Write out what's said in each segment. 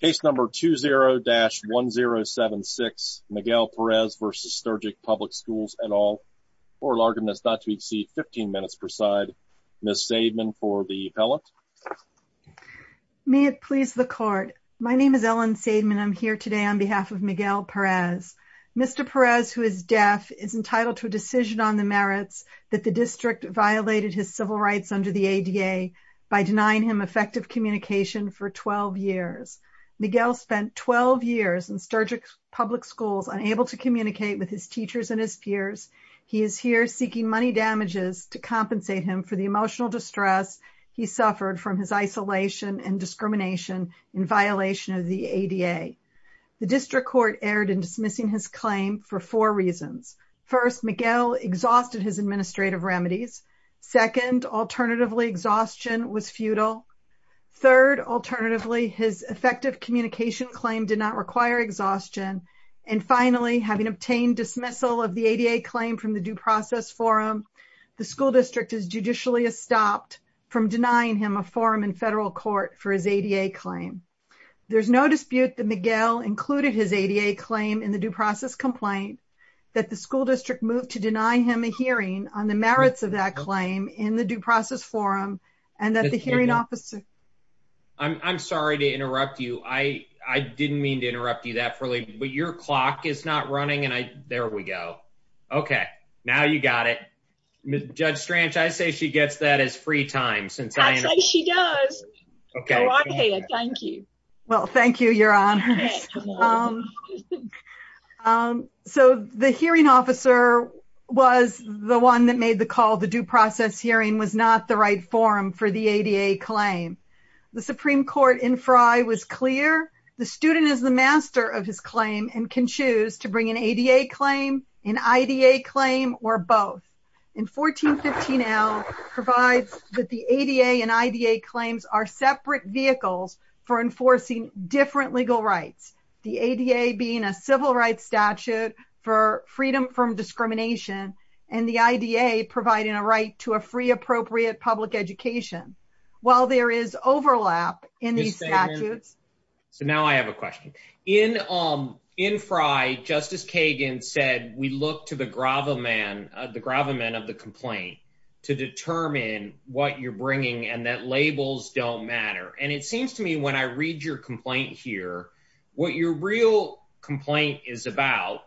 Case number 20-1076, Miguel Perez v. Sturgis Public Schools et al. Oral argument is not to exceed 15 minutes per side. Ms. Seidman for the appellate. May it please the court. My name is Ellen Seidman. I'm here today on behalf of Miguel Perez. Mr. Perez, who is deaf, is entitled to a decision on the merits that the district violated his civil rights under the ADA by denying him effective communication for 12 years. Miguel spent 12 years in Sturgis Public Schools unable to communicate with his teachers and his peers. He is here seeking money damages to compensate him for the emotional distress he suffered from his isolation and discrimination in violation of the ADA. The district court erred in dismissing his claim for four reasons. First, Miguel exhausted his administrative remedies. Second, alternatively, exhaustion was futile. Third, alternatively, his effective communication claim did not require exhaustion. And finally, having obtained dismissal of the ADA claim from the due process forum, the school district is judicially stopped from denying him a forum in federal court for his ADA claim. There's no dispute that Miguel included his ADA claim in the due process complaint that the school district moved to deny him a hearing on the merits of that claim in the due process forum and that the hearing officer... I'm sorry to interrupt you. I didn't mean to interrupt you that early, but your clock is not running and I... There we go. Okay. Now you got it. Judge Strange, I say she gets that as free time since... I say she does. Okay. Thank you. Well, thank you, Your Honors. So the hearing officer was the one that made the call. The due process hearing was not the right forum for the ADA claim. The Supreme Court in Frye was clear. The student is the master of his claim and can choose to bring an ADA claim, an IDA claim, or both. And 1415L provides that the ADA and IDA claims are separate vehicles for enforcing different legal rights. The ADA being a civil rights statute for freedom from discrimination and the IDA providing a right to a free appropriate public education. While there is overlap in these statutes... So now I have a question. In Frye, Justice Kagan said we look to the gravamen of the complaint to determine what you're bringing and that labels don't matter. And it seems to me when I read your complaint here, what your real complaint is about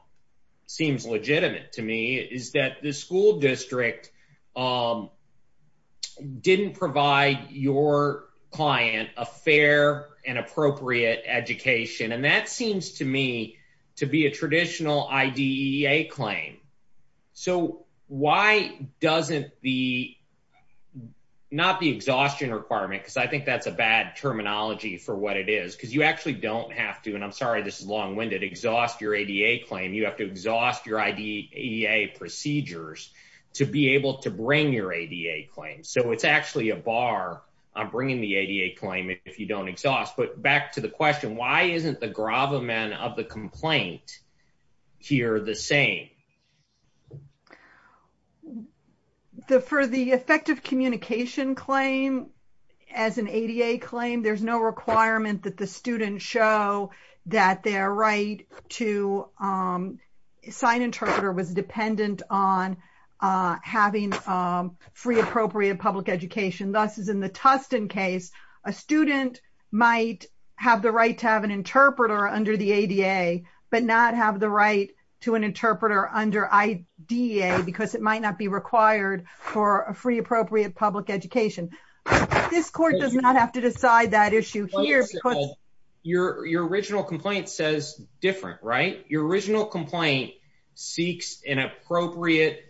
seems legitimate to me is that the school district didn't provide your client a fair and appropriate education. And that seems to me to be a traditional IDEA claim. So why doesn't the... Because I think that's a bad terminology for what it is. Because you actually don't have to, and I'm sorry, this is long-winded, exhaust your ADA claim. You have to exhaust your IDEA procedures to be able to bring your ADA claim. So it's actually a bar on bringing the ADA claim if you don't exhaust. But back to the question, why isn't the gravamen of the complaint here the same? For the effective communication claim as an ADA claim, there's no requirement that the student show that their right to sign interpreter was dependent on having free appropriate public education. Thus, as in the Tustin case, a student might have the right to have an interpreter under the ADA, but not have the right to an interpreter under IDEA because it might not be required for a free appropriate public education. This court does not have to decide that issue here because... Your original complaint says different, right? Your original complaint seeks an appropriate...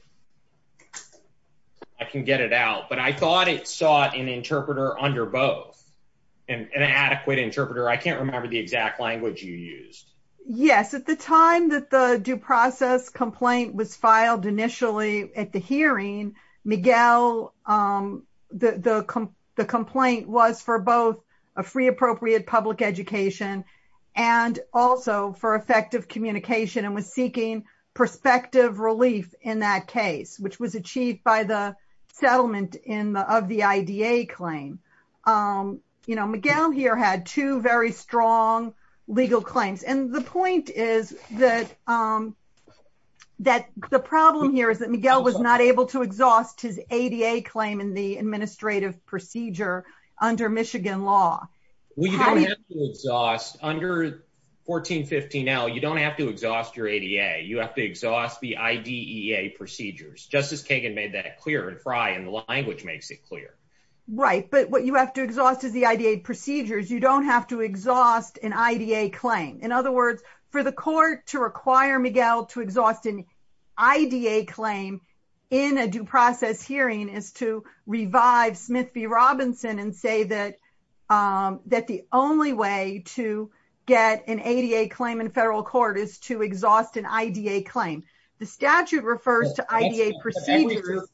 I can get it out, but I thought it sought an interpreter under both, an adequate interpreter. I can't remember the exact language you used. Yes, at the time that the due process complaint was filed initially at the hearing, Miguel, the complaint was for both a free appropriate public education and also for effective communication and was seeking perspective relief in that case, which was achieved by the settlement of the IDEA claim. Miguel here had two very strong legal claims. And the point is that the problem here is that Miguel was not able to exhaust his ADA claim in the administrative procedure under Michigan law. Well, you don't have to exhaust. Under 1415L, you don't have to exhaust your ADA. You have to exhaust the IDEA procedures. Justice Kagan made that clear in Frye, and the language makes it clear. Right, but what you have to exhaust is the IDEA procedures. You don't have to exhaust an IDEA claim. In other words, for the court to require Miguel to exhaust an IDEA claim in a due process hearing is to revive Smith v. Robinson and say that the only way to get an ADA claim in federal court is to exhaust an IDEA claim. The statute refers to IDEA procedures.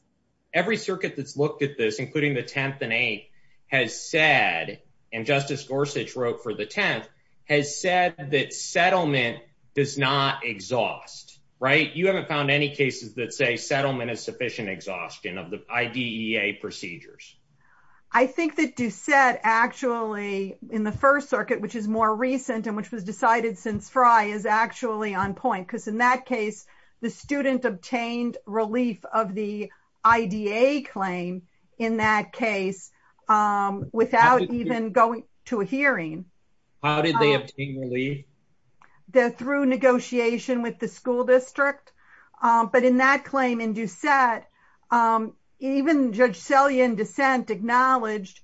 Every circuit that's looked at this, including the 10th and 8th, has said, and Justice Gorsuch wrote for the 10th, has said that settlement does not exhaust, right? You haven't found any cases that say settlement is sufficient exhaustion of the IDEA procedures. I think that Doucette actually, in the First Circuit, which is more recent and which was decided since Frye, is actually on point. Because in that case, the student obtained relief of the IDEA claim in that case without even going to a hearing. How did they obtain relief? Through negotiation with the school district. But in that claim in Doucette, even Judge Selian dissent acknowledged,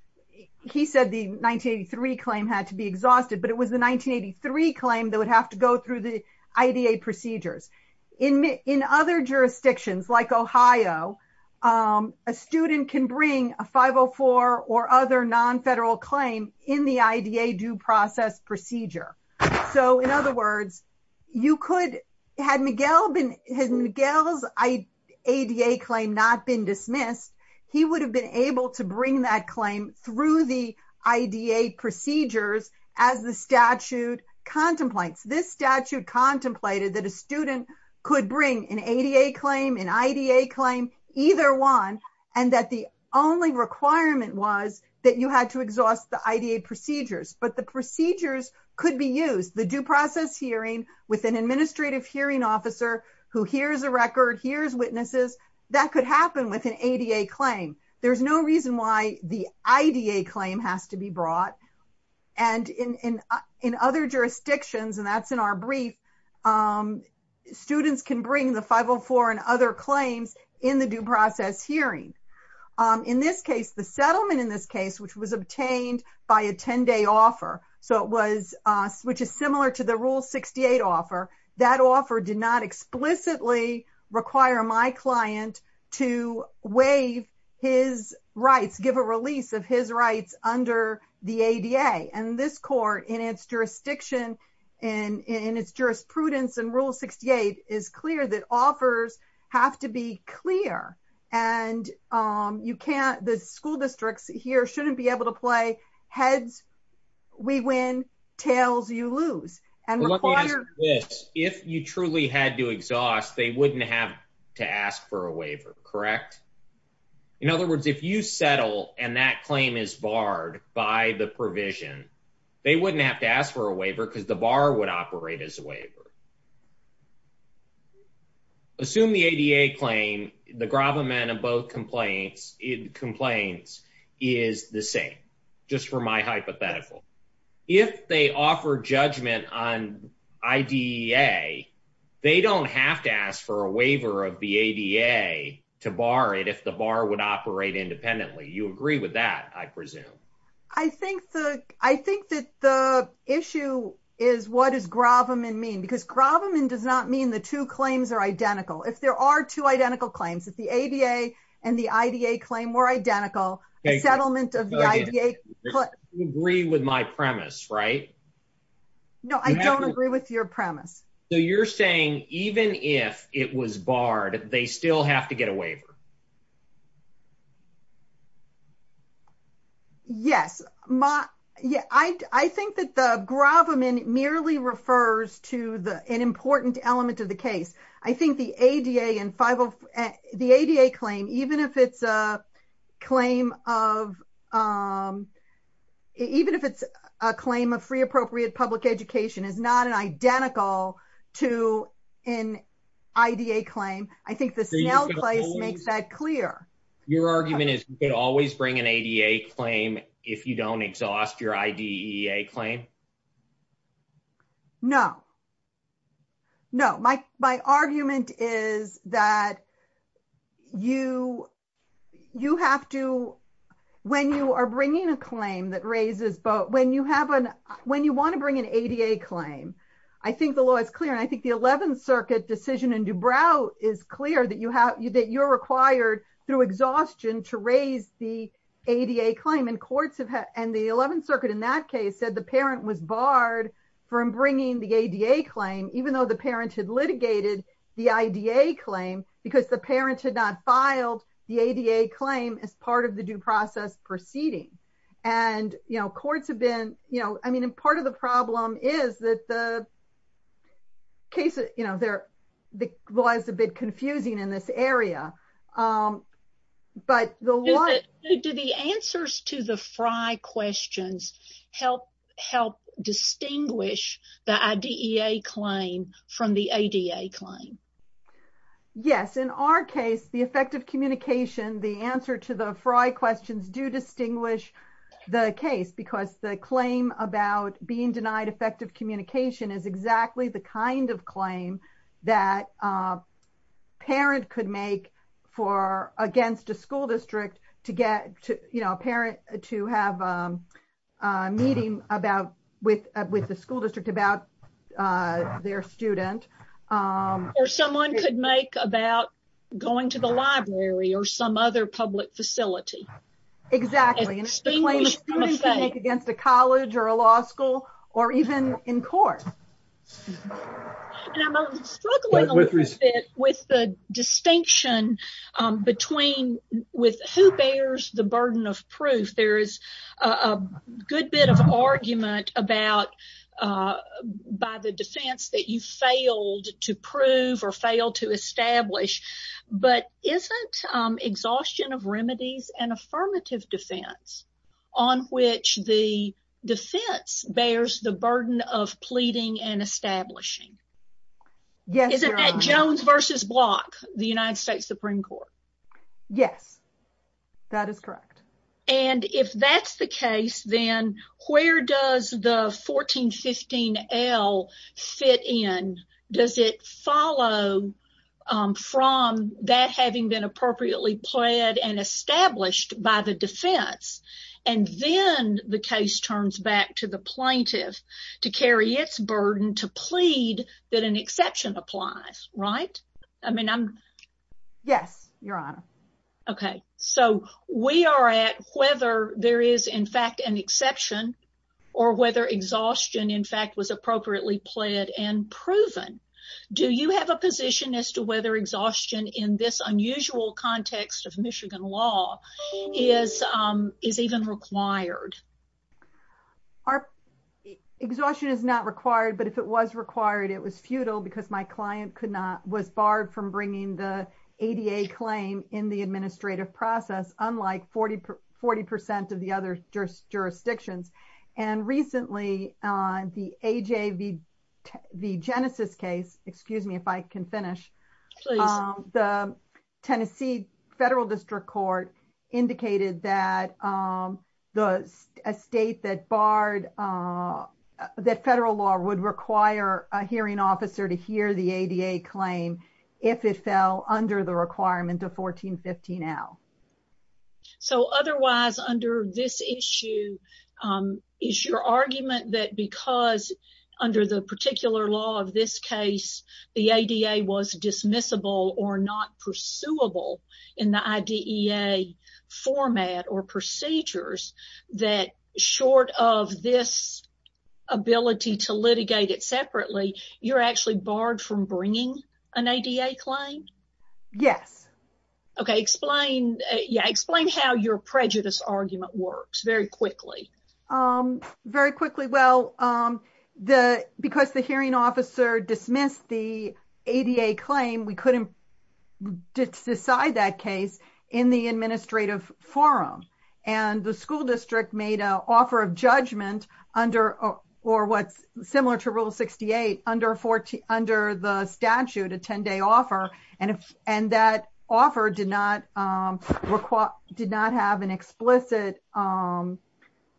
he said the 1983 claim had to be exhausted, but it was the 1983 claim that would have to go through the IDEA procedures. In other jurisdictions, like Ohio, a student can bring a 504 or other non-federal claim in the IDEA due process procedure. So, in other words, had Miguel's ADA claim not been dismissed, he would have been able to bring that claim through the IDEA procedures as the statute contemplates. This statute contemplated that a student could bring an ADA claim, an IDEA claim, either one, and that the only requirement was that you had to exhaust the IDEA procedures. But the procedures could be used. The due process hearing with an administrative hearing officer who hears a record, hears witnesses, that could happen with an ADA claim. There's no reason why the IDEA claim has to be brought. And in other jurisdictions, and that's in our brief, students can bring the 504 and other claims in the due process hearing. In this case, the settlement in this case, which was obtained by a 10-day offer, so it was, which is similar to the Rule 68 offer, that offer did not explicitly require my client to waive his rights, give a release of his rights under the ADA. And this court, in its jurisdiction, in its jurisprudence in Rule 68, is clear that offers have to be clear. And you can't, the school districts here shouldn't be able to play heads we win, tails you lose. And require- Let me ask you this. If you truly had to exhaust, they wouldn't have to ask for a waiver, correct? In other words, if you settle and that claim is barred by the provision, they wouldn't have to ask for a waiver because the bar would operate as a waiver. Assume the ADA claim, the gravamen of both complaints is the same, just for my hypothetical. If they offer judgment on IDA, they don't have to ask for a waiver of the ADA to bar it if the bar would operate independently. You agree with that, I presume? I think that the issue is what does gravamen mean? Because gravamen does not mean the two claims are identical. If there are two identical claims, if the ADA and the IDA claim were identical, a settlement of the IDA- You agree with my premise, right? No, I don't agree with your premise. So you're saying even if it was barred, they still have to get a waiver? Yes, I think that the gravamen merely refers to an important element of the case. I think the ADA claim, even if it's a claim of free appropriate public education, is not identical to an IDA claim. I think the Snell claim makes that clear. Your argument is you can always bring an ADA claim if you don't exhaust your IDEA claim? No. No. My argument is that you have to- When you are bringing a claim that raises- When you want to bring an ADA claim, I think the law is clear, and I think the 11th Circuit decision in DuBrow is clear that you're required, through exhaustion, to raise the ADA claim. And the 11th Circuit in that case said the parent was barred from bringing the ADA claim, even though the parent had litigated the IDA claim, because the parent had not filed the ADA claim as part of the due process proceeding. And courts have been- Part of the problem is that the case- The law is a bit confusing in this area. But the law- Do the answers to the Frye questions help distinguish the IDEA claim from the ADA claim? Yes. In our case, the effective communication, the answer to the Frye questions do distinguish the case, because the claim about being denied effective communication is exactly the kind of claim that a parent could make against a school district to get a parent to have a meeting with the school district about their student. Or someone could make about going to the library or some other public facility. Exactly. And it's the claim a student can make against a college or a law school or even in court. And I'm struggling a little bit with the distinction between who bears the burden of proof. There is a good bit of argument about, by the defense, that you failed to prove or failed to establish. But isn't exhaustion of remedies an affirmative defense on which the defense bears the burden of pleading and establishing? Yes, Your Honor. Isn't that Jones v. Block, the United States Supreme Court? Yes. That is correct. And if that's the case, then where does the 1415L fit in? Does it follow from that having been appropriately pled and established by the defense? And then the case turns back to the plaintiff to carry its burden to plead that an exception applies, right? Yes, Your Honor. Okay. So we are at whether there is, in fact, an exception or whether exhaustion, in fact, was appropriately pled and proven. Do you have a position as to whether exhaustion in this unusual context of Michigan law is even required? Exhaustion is not required, but if it was required, it was futile because my client was barred from bringing the ADA claim in the administrative process, unlike 40% of the other jurisdictions. And recently, the AJ v. Genesis case, excuse me if I can finish. Please. The Tennessee Federal District Court indicated that a state that barred, that federal law would require a hearing officer to hear the ADA claim if it fell under the requirement of 1415L. So otherwise, under this issue, is your argument that because under the particular law of this case, the ADA was dismissible or not pursuable in the IDEA format or procedures, that short of this ability to litigate it separately, you're actually barred from bringing an ADA claim? Yes. Okay. Explain how your prejudice argument works very quickly. Very quickly. Well, because the hearing officer dismissed the ADA claim, we couldn't decide that case in the administrative forum. And the school district made an offer of judgment under, or what's similar to Rule 68, under the statute, a 10-day offer. And that offer did not have an explicit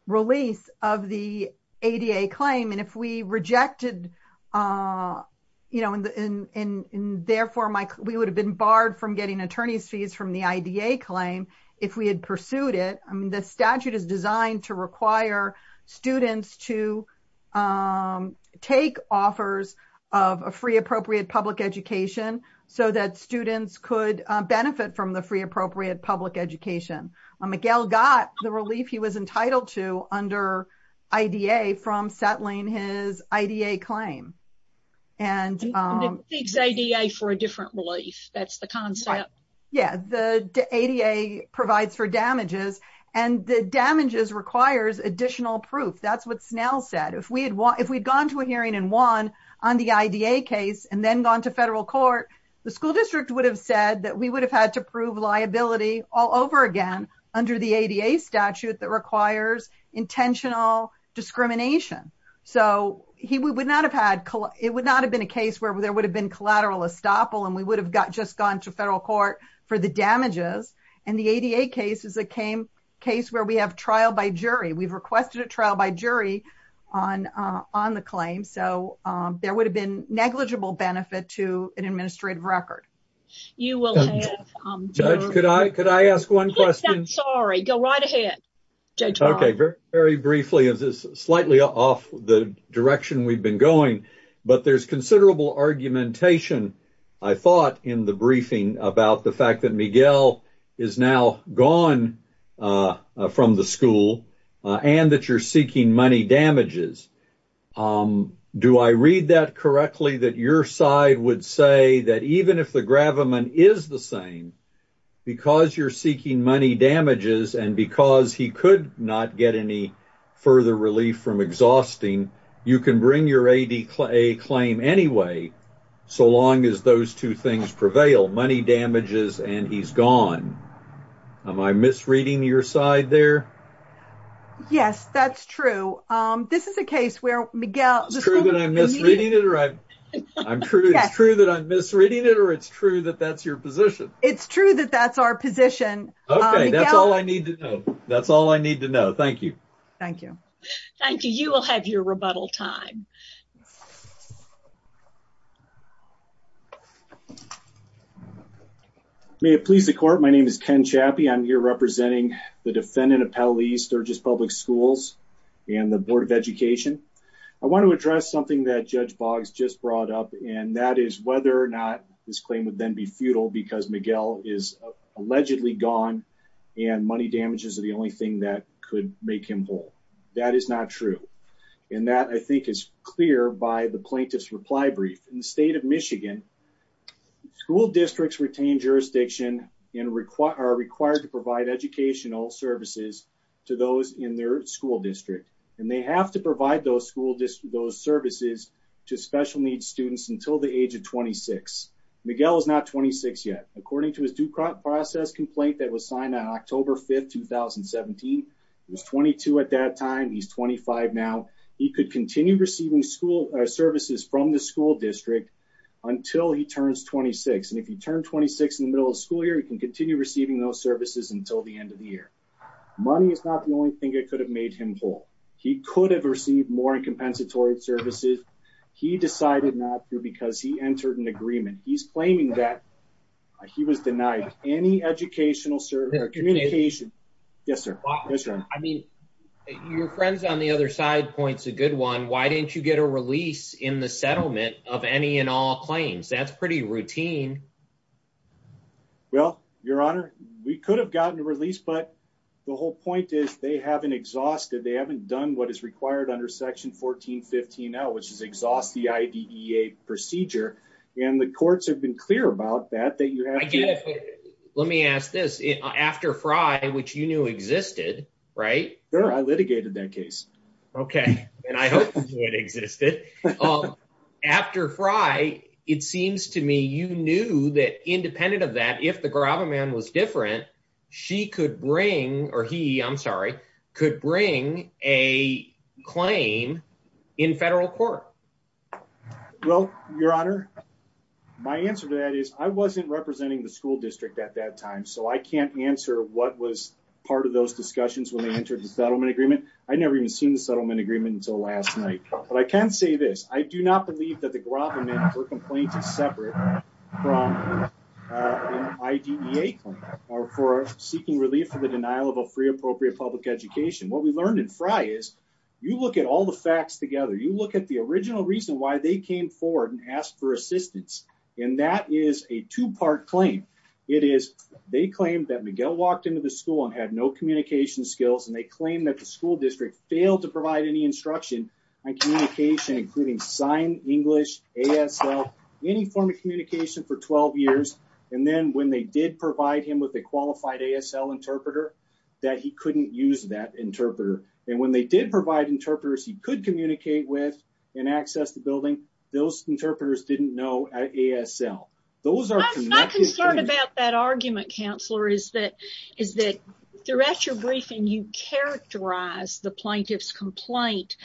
release of the ADA claim. And if we rejected, you know, and therefore we would have been barred from getting attorney's fees from the IDA claim if we had pursued it. I mean, the statute is designed to require students to take offers of a free appropriate public education so that students could benefit from the free appropriate public education. Miguel got the relief he was entitled to under IDA from settling his IDA claim. And it seeks ADA for a different relief. That's the concept. Yeah. The ADA provides for damages and the damages requires additional proof. That's what Snell said. If we had gone to a hearing and won on the IDA case and then gone to federal court, the school district would have said that we would have had to prove liability all over again under the ADA statute that requires intentional discrimination. So it would not have been a case where there would have been collateral estoppel and we would have just gone to federal court for the damages. And the ADA case is a case where we have trial by jury. We've requested a trial by jury on the claim. So there would have been negligible benefit to an administrative record. You will have... Judge, could I ask one question? I'm sorry. Go right ahead. Okay. Very briefly. This is slightly off the direction we've been going. But there's considerable argumentation, I thought, in the briefing about the fact that Miguel is now gone from the school and that you're seeking money damages. Do I read that correctly that your side would say that even if the gravamen is the same, because you're seeking money damages and because he could not get any further relief from exhausting, you can bring your ADA claim anyway so long as those two things prevail, money damages and he's gone? Am I misreading your side there? Yes, that's true. This is a case where Miguel... It's true that I'm misreading it or it's true that that's your position? It's true that that's our position. Okay. That's all I need to know. Thank you. Thank you. Thank you. You will have your rebuttal time. May it please the court. My name is Ken Chappie. I'm here representing the defendant of Pell East, Sturgis Public Schools and the Board of Education. I want to address something that Judge Boggs just brought up, and that is whether or not this claim would then be futile because Miguel is allegedly gone and money damages are the only thing that could make him whole. That is not true. And that I think is clear by the plaintiff's reply brief. In the state of Michigan, school districts retain jurisdiction and are required to provide educational services to those in their school district. And they have to provide those services to special needs students until the age of 26. Miguel is not 26 yet. According to his due process complaint that was signed on October 5, 2017, he was 22 at that time. He's 25 now. He could continue receiving school services from the school district until he turns 26. And if you turn 26 in the middle of school year, you can continue receiving those services until the end of the year. Money is not the only thing that could have made him whole. He could have received more in compensatory services. He decided not to because he entered an agreement. He's claiming that he was denied any educational service or communication. Yes, sir. Yes, sir. I mean, your friends on the other side points a good one. Why didn't you get a release in the settlement of any and all claims? That's pretty routine. Well, your honor, we could have gotten a release, but the whole point is they haven't exhausted. They haven't done what is required under Section 14 15 now, which is exhaust the IDEA procedure. And the courts have been clear about that. Let me ask this after Frye, which you knew existed, right? I litigated that case. OK, and I hope it existed after Frye. It seems to me you knew that independent of that, if the grabber man was different, she could bring or he I'm sorry, could bring a claim in federal court. Well, your honor, my answer to that is I wasn't representing the school district at that time, so I can't answer what was part of those discussions when they entered the settlement agreement. I never even seen the settlement agreement until last night. But I can say this. I do not believe that the government for complaint is separate from IDEA or for seeking relief for the denial of a free, appropriate public education. What we learned in Frye is you look at all the facts together. You look at the original reason why they came forward and asked for assistance. And that is a two part claim. It is they claim that Miguel walked into the school and had no communication skills, and they claim that the school district failed to provide any instruction on communication, including sign, English, ASL, any form of communication for 12 years. And then when they did provide him with a qualified ASL interpreter that he couldn't use that interpreter. And when they did provide interpreters, he could communicate with and access the building. Those interpreters didn't know ASL. I'm not concerned about that argument, counselor, is that is that throughout your briefing, you characterize the plaintiff's complaint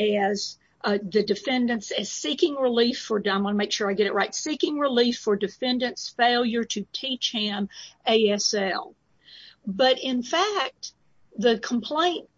as the defendants as seeking relief for them. I want to make sure I get it right. Seeking relief for defendants failure to teach him ASL. But in fact, the complaint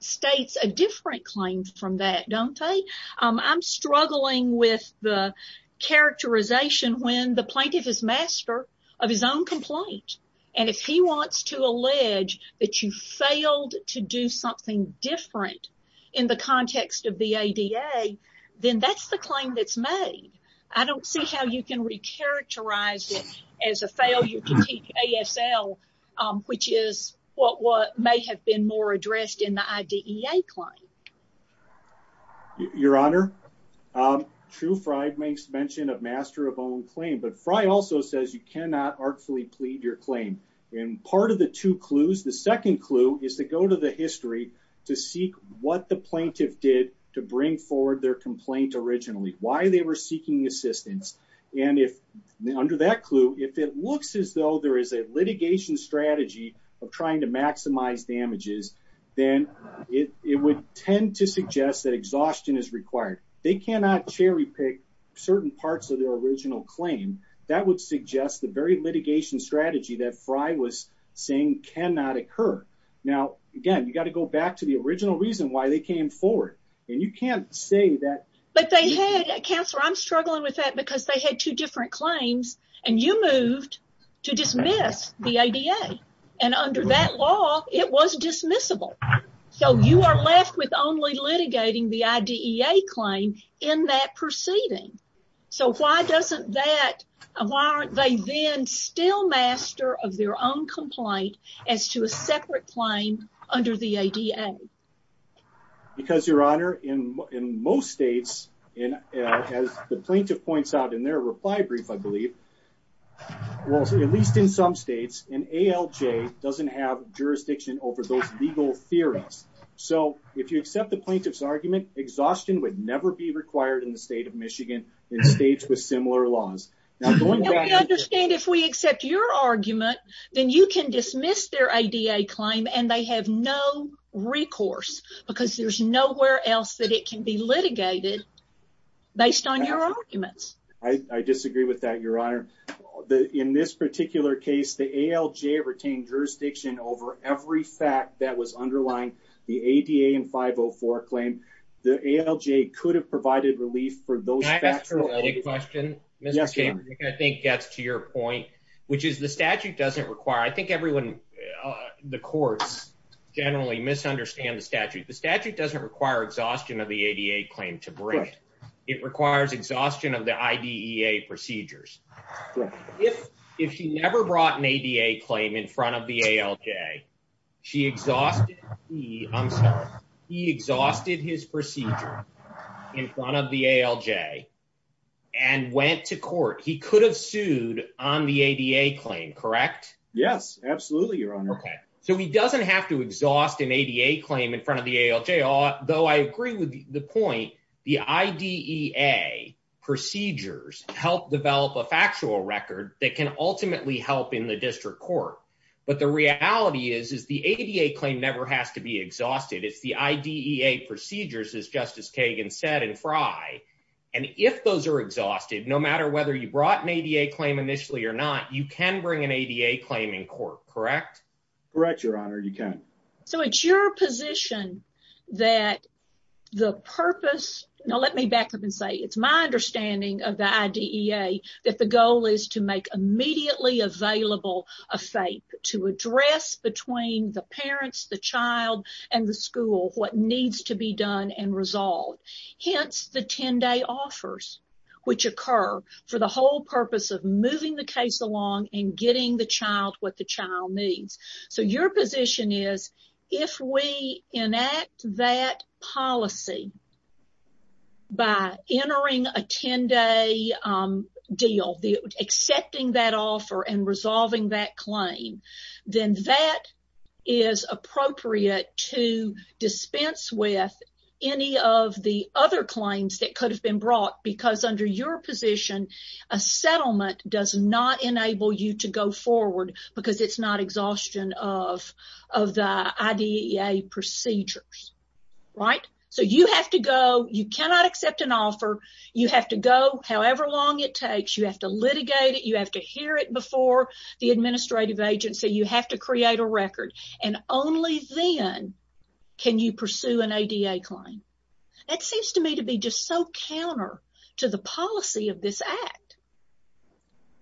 states a different claim from that, don't they? I'm struggling with the characterization when the plaintiff is master of his own complaint. And if he wants to allege that you failed to do something different in the context of the ADA, then that's the claim that's made. I don't see how you can recharacterize it as a fail. You can teach ASL, which is what may have been more addressed in the IDEA claim. Your Honor. True, Fry makes mention of master of own claim, but Fry also says you cannot artfully plead your claim in part of the two clues. The second clue is to go to the history to seek what the plaintiff did to bring forward their complaint originally. Why they were seeking assistance. And if under that clue, if it looks as though there is a litigation strategy of trying to maximize damages, then it would tend to suggest that exhaustion is required. They cannot cherry pick certain parts of their original claim. That would suggest the very litigation strategy that Fry was saying cannot occur. Now, again, you've got to go back to the original reason why they came forward. And you can't say that, but they had cancer. I'm struggling with that because they had two different claims and you moved to dismiss the ADA. And under that law, it was dismissible. So you are left with only litigating the IDEA claim in that proceeding. So why doesn't that warrant they then still master of their own complaint as to a separate claim under the ADA? Because, Your Honor, in most states, as the plaintiff points out in their reply brief, I believe, at least in some states, an ALJ doesn't have jurisdiction over those legal theories. So if you accept the plaintiff's argument, exhaustion would never be required in the state of Michigan in states with similar laws. And we understand if we accept your argument, then you can dismiss their ADA claim and they have no recourse because there's nowhere else that it can be litigated based on your arguments. I disagree with that, Your Honor. In this particular case, the ALJ retained jurisdiction over every fact that was underlying the ADA and 504 claim. The ALJ could have provided relief for those facts. A question I think gets to your point, which is the statute doesn't require. I think everyone in the courts generally misunderstand the statute. The statute doesn't require exhaustion of the ADA claim to break. It requires exhaustion of the IDEA procedures. If she never brought an ADA claim in front of the ALJ, she exhausted. I'm sorry. He exhausted his procedure in front of the ALJ and went to court. He could have sued on the ADA claim, correct? Yes, absolutely, Your Honor. So he doesn't have to exhaust an ADA claim in front of the ALJ. Though I agree with the point, the IDEA procedures help develop a factual record that can ultimately help in the district court. But the reality is the ADA claim never has to be exhausted. It's the IDEA procedures, as Justice Kagan said in Frye. And if those are exhausted, no matter whether you brought an ADA claim initially or not, you can bring an ADA claim in court, correct? Correct, Your Honor. You can. So it's your position that the purpose... Now, let me back up and say it's my understanding of the IDEA that the goal is to make immediately available a FAPE to address between the parents, the child, and the school what needs to be done and resolved. Hence, the 10-day offers which occur for the whole purpose of moving the case along and getting the child what the child needs. So your position is if we enact that policy by entering a 10-day deal, accepting that offer and resolving that claim, then that is appropriate to dispense with any of the other claims that could have been brought because under your position, a settlement does not enable you to go forward because it's not exhaustion of the IDEA procedures, right? So you have to go. You cannot accept an offer. You have to go however long it takes. You have to litigate it. You have to hear it before the administrative agency. You have to create a record. And only then can you pursue an ADA claim. That seems to me to be just so counter to the policy of this Act.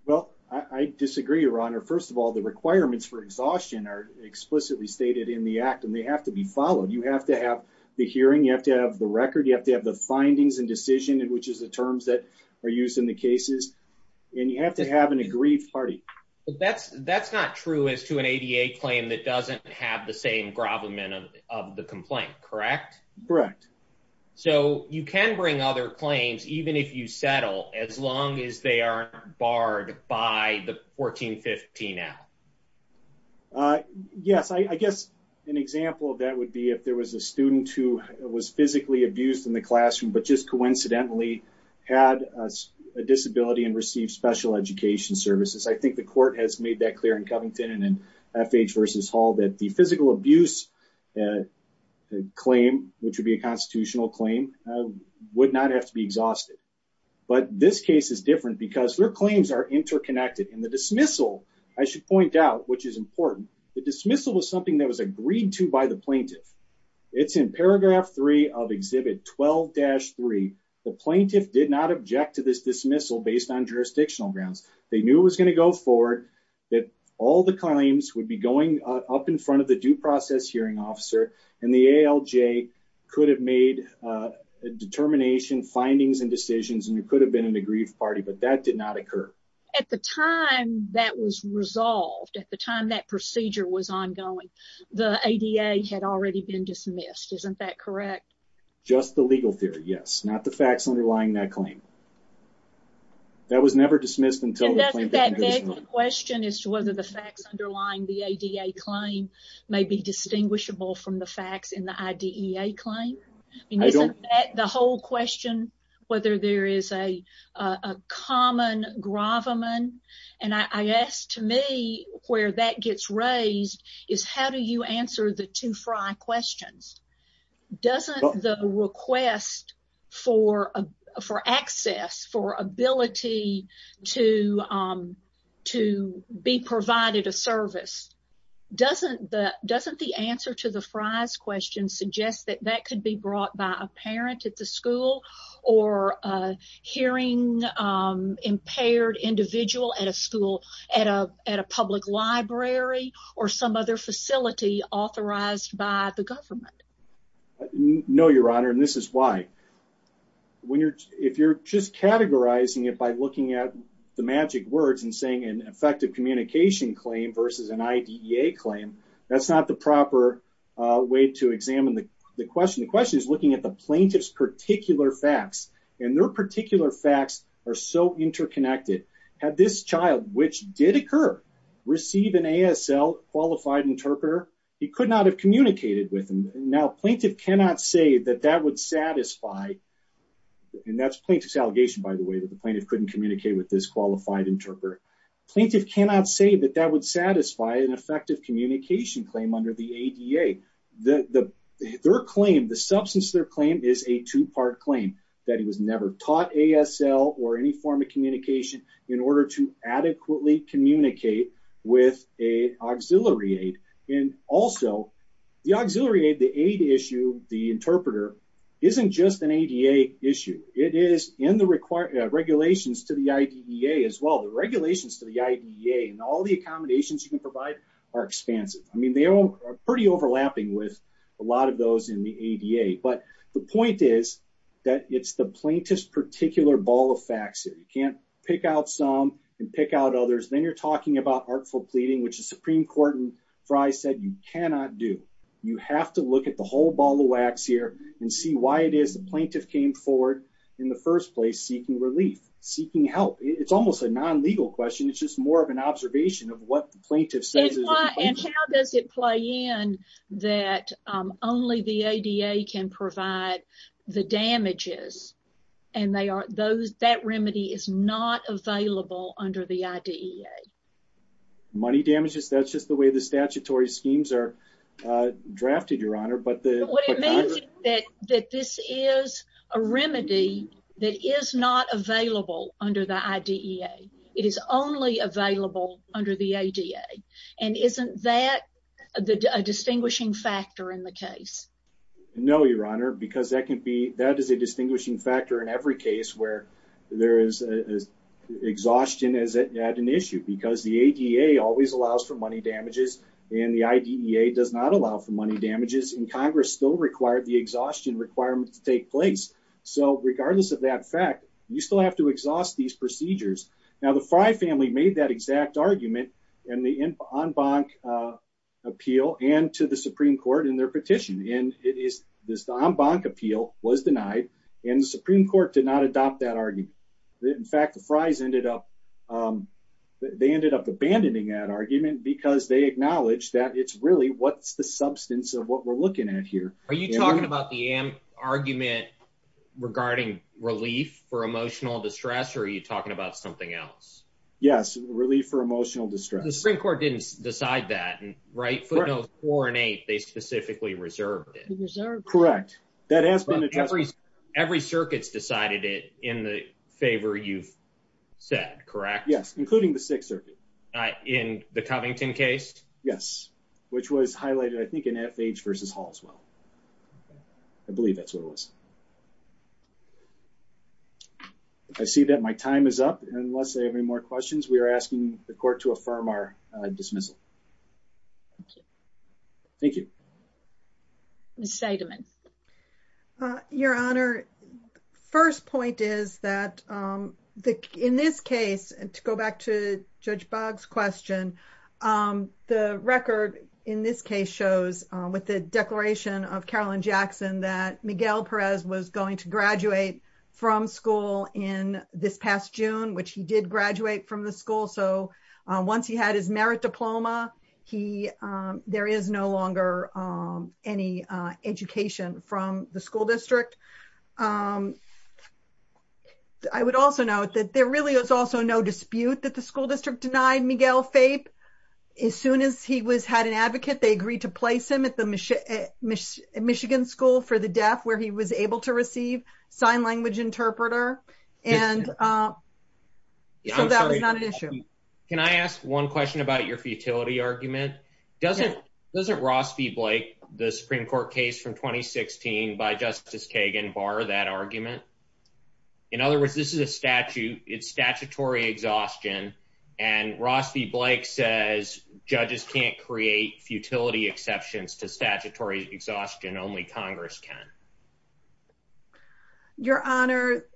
Well, I disagree, Your Honor. First of all, the requirements for exhaustion are explicitly stated in the Act and they have to be followed. You have to have the hearing. You have to have the record. You have to have the findings and decision, which is the terms that are used in the cases. And you have to have an agreed party. That's not true as to an ADA claim that doesn't have the same grovelment of the complaint, correct? Correct. So you can bring other claims, even if you settle, as long as they aren't barred by the 1415-L? Yes, I guess an example of that would be if there was a student who was physically abused in the classroom, but just coincidentally had a disability and received special education services. I think the court has made that clear in Covington and in FH v. Hall that the physical abuse claim, which would be a constitutional claim, would not have to be exhausted. But this case is different because their claims are interconnected. And the dismissal, I should point out, which is important, the dismissal was something that was agreed to by the plaintiff. It's in paragraph 3 of Exhibit 12-3. The plaintiff did not object to this dismissal based on jurisdictional grounds. They knew it was going to go forward, that all the claims would be going up in front of the due process hearing officer, and the ALJ could have made a determination, findings and decisions, and there could have been an agreed party, but that did not occur. At the time that was resolved, at the time that procedure was ongoing, the ADA had already been dismissed. Isn't that correct? Just the legal theory, yes. Not the facts underlying that claim. That was never dismissed until the plaintiff... And that begs the question as to whether the facts underlying the ADA claim may be distinguishable from the facts in the IDEA claim. Isn't that the whole question, whether there is a common gravamen? And I guess, to me, where that gets raised is how do you answer the two Frye questions? Doesn't the request for access, for ability to be provided a service, doesn't the answer to the Frye's question suggest that that could be brought by a parent at the school, or a hearing impaired individual at a school, at a public library, or some other facility authorized by the government? No, Your Honor, and this is why. If you're just categorizing it by looking at the magic words and saying an effective communication claim versus an IDEA claim, that's not the proper way to examine the question. The question is looking at the plaintiff's particular facts, and their particular facts are so interconnected. Had this child, which did occur, receive an ASL qualified interpreter, he could not have communicated with them. Now, plaintiff cannot say that that would satisfy, and that's plaintiff's allegation, by the way, that the plaintiff couldn't communicate with this qualified interpreter. Plaintiff cannot say that that would satisfy an effective communication claim under the ADA. Their claim, the substance of their claim is a two-part claim, that he was never taught ASL or any form of communication in order to adequately communicate with an auxiliary aid. And also, the auxiliary aid, the aid issue, the interpreter, isn't just an ADA issue. It is in the regulations to the IDEA as well. The regulations to the IDEA and all the accommodations you can provide are expansive. I mean, they are pretty overlapping with a lot of those in the ADA. But the point is that it's the plaintiff's particular ball of facts. You can't pick out some and pick out others. Then you're talking about artful pleading, which the Supreme Court in Frye said you cannot do. You have to look at the whole ball of wax here and see why it is the plaintiff came forward in the first place seeking relief, seeking help. It's almost a non-legal question. It's just more of an observation of what the plaintiff says. And how does it play in that only the ADA can provide the damages and that remedy is not available under the IDEA? Money damages, that's just the way the statutory schemes are drafted, Your Honor. What it means is that this is a remedy that is not available under the IDEA. It is only available under the ADA. And isn't that a distinguishing factor in the case? No, Your Honor, because that is a distinguishing factor in every case where there is exhaustion as an issue because the ADA always allows for money damages. And the IDEA does not allow for money damages. And Congress still required the exhaustion requirements to take place. So regardless of that fact, you still have to exhaust these procedures. Now, the Frye family made that exact argument in the en banc appeal and to the Supreme Court in their petition. And it is this en banc appeal was denied and the Supreme Court did not adopt that argument. In fact, the Frye's ended up they ended up abandoning that argument because they acknowledge that it's really what's the substance of what we're looking at here. Are you talking about the argument regarding relief for emotional distress or are you talking about something else? Yes. Relief for emotional distress. The Supreme Court didn't decide that, right? Footnotes four and eight, they specifically reserved it. Correct. That has been addressed. Every circuit's decided it in the favor you've said, correct? Yes, including the Sixth Circuit. In the Covington case? Yes, which was highlighted, I think, in FH versus Hall as well. I believe that's what it was. I see that my time is up. Unless I have any more questions, we are asking the court to affirm our dismissal. Thank you. Ms. Seidman. Your Honor, first point is that in this case, and to go back to Judge Boggs question, the record in this case shows with the declaration of Carolyn Jackson that Miguel Perez was going to graduate from school in this past June, which he did graduate from the school. Once he had his merit diploma, there is no longer any education from the school district. I would also note that there really was also no dispute that the school district denied Miguel FAPE. As soon as he had an advocate, they agreed to place him at the Michigan School for the Deaf, where he was able to receive sign language interpreter. So that was not an issue. Can I ask one question about your futility argument? Doesn't Ross v. Blake, the Supreme Court case from 2016 by Justice Kagan, bar that argument? In other words, this is a statute. It's statutory exhaustion. And Ross v. Blake says judges can't create futility exceptions to statutory exhaustion. Only Congress can. Your Honor,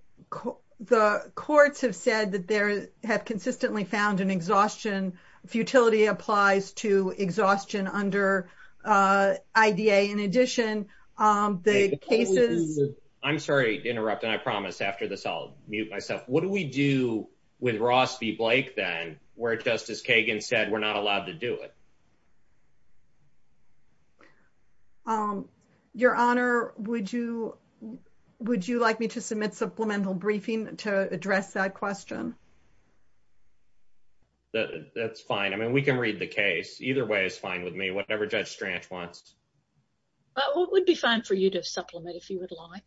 the courts have said that they have consistently found an exhaustion. Futility applies to exhaustion under IDA. In addition, the cases... I'm sorry to interrupt, and I promise after this I'll mute myself. What do we do with Ross v. Blake, then, where Justice Kagan said we're not allowed to do it? Your Honor, would you like me to submit supplemental briefing to address that question? That's fine. I mean, we can read the case. Either way is fine with me, whatever Judge Stranch wants. It would be fine for you to supplement if you would like.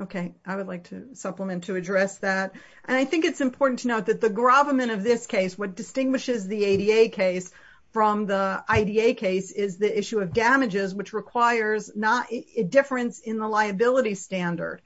Okay, I would like to supplement to address that. And I think it's important to note that the gravamen of this case, what distinguishes the ADA case from the IDA case, is the issue of damages, which requires a difference in the liability standard.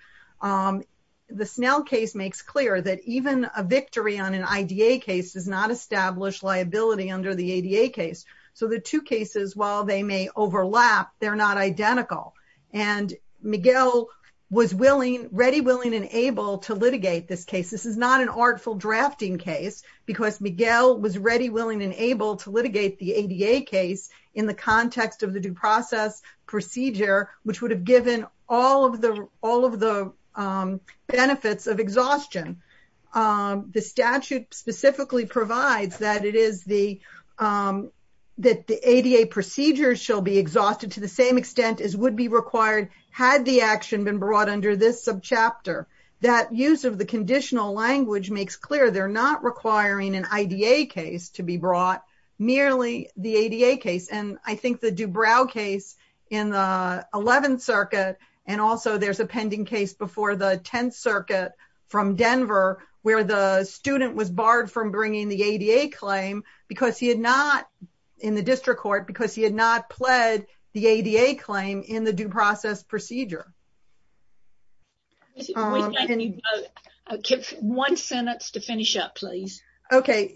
The Snell case makes clear that even a victory on an IDA case does not establish liability under the ADA case. So the two cases, while they may overlap, they're not identical. And Miguel was ready, willing, and able to litigate this case. This is not an artful drafting case, because Miguel was ready, willing, and able to litigate the ADA case in the context of the due process procedure, which would have given all of the benefits of exhaustion. The statute specifically provides that the ADA procedures shall be exhausted to the same extent as would be required had the action been brought under this subchapter. That use of the conditional language makes clear they're not requiring an IDA case to be brought, merely the ADA case. And I think the Dubrow case in the 11th Circuit, and also there's a pending case before the 10th Circuit from Denver, where the student was barred from bringing the ADA claim because he had not, in the district court, because he had not pled the ADA claim in the due process procedure. Okay,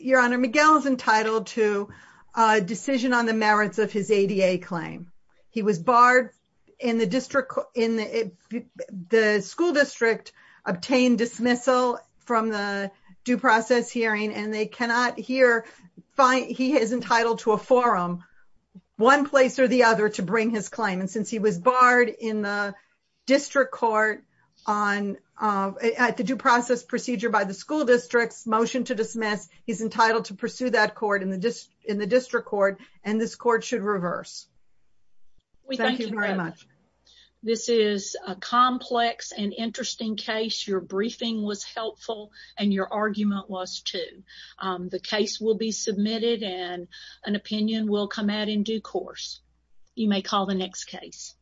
Your Honor, Miguel is entitled to a decision on the merits of his ADA claim. He was barred in the school district, obtained dismissal from the due process hearing, and he is entitled to a forum, one place or the other, to bring his claim. And since he was barred in the district court at the due process procedure by the school district's motion to dismiss, he's entitled to pursue that court in the district court, and this court should reverse. Thank you very much. This is a complex and interesting case. Your briefing was helpful, and your argument was too. The case will be submitted, and an opinion will come out in due course. You may call the next case.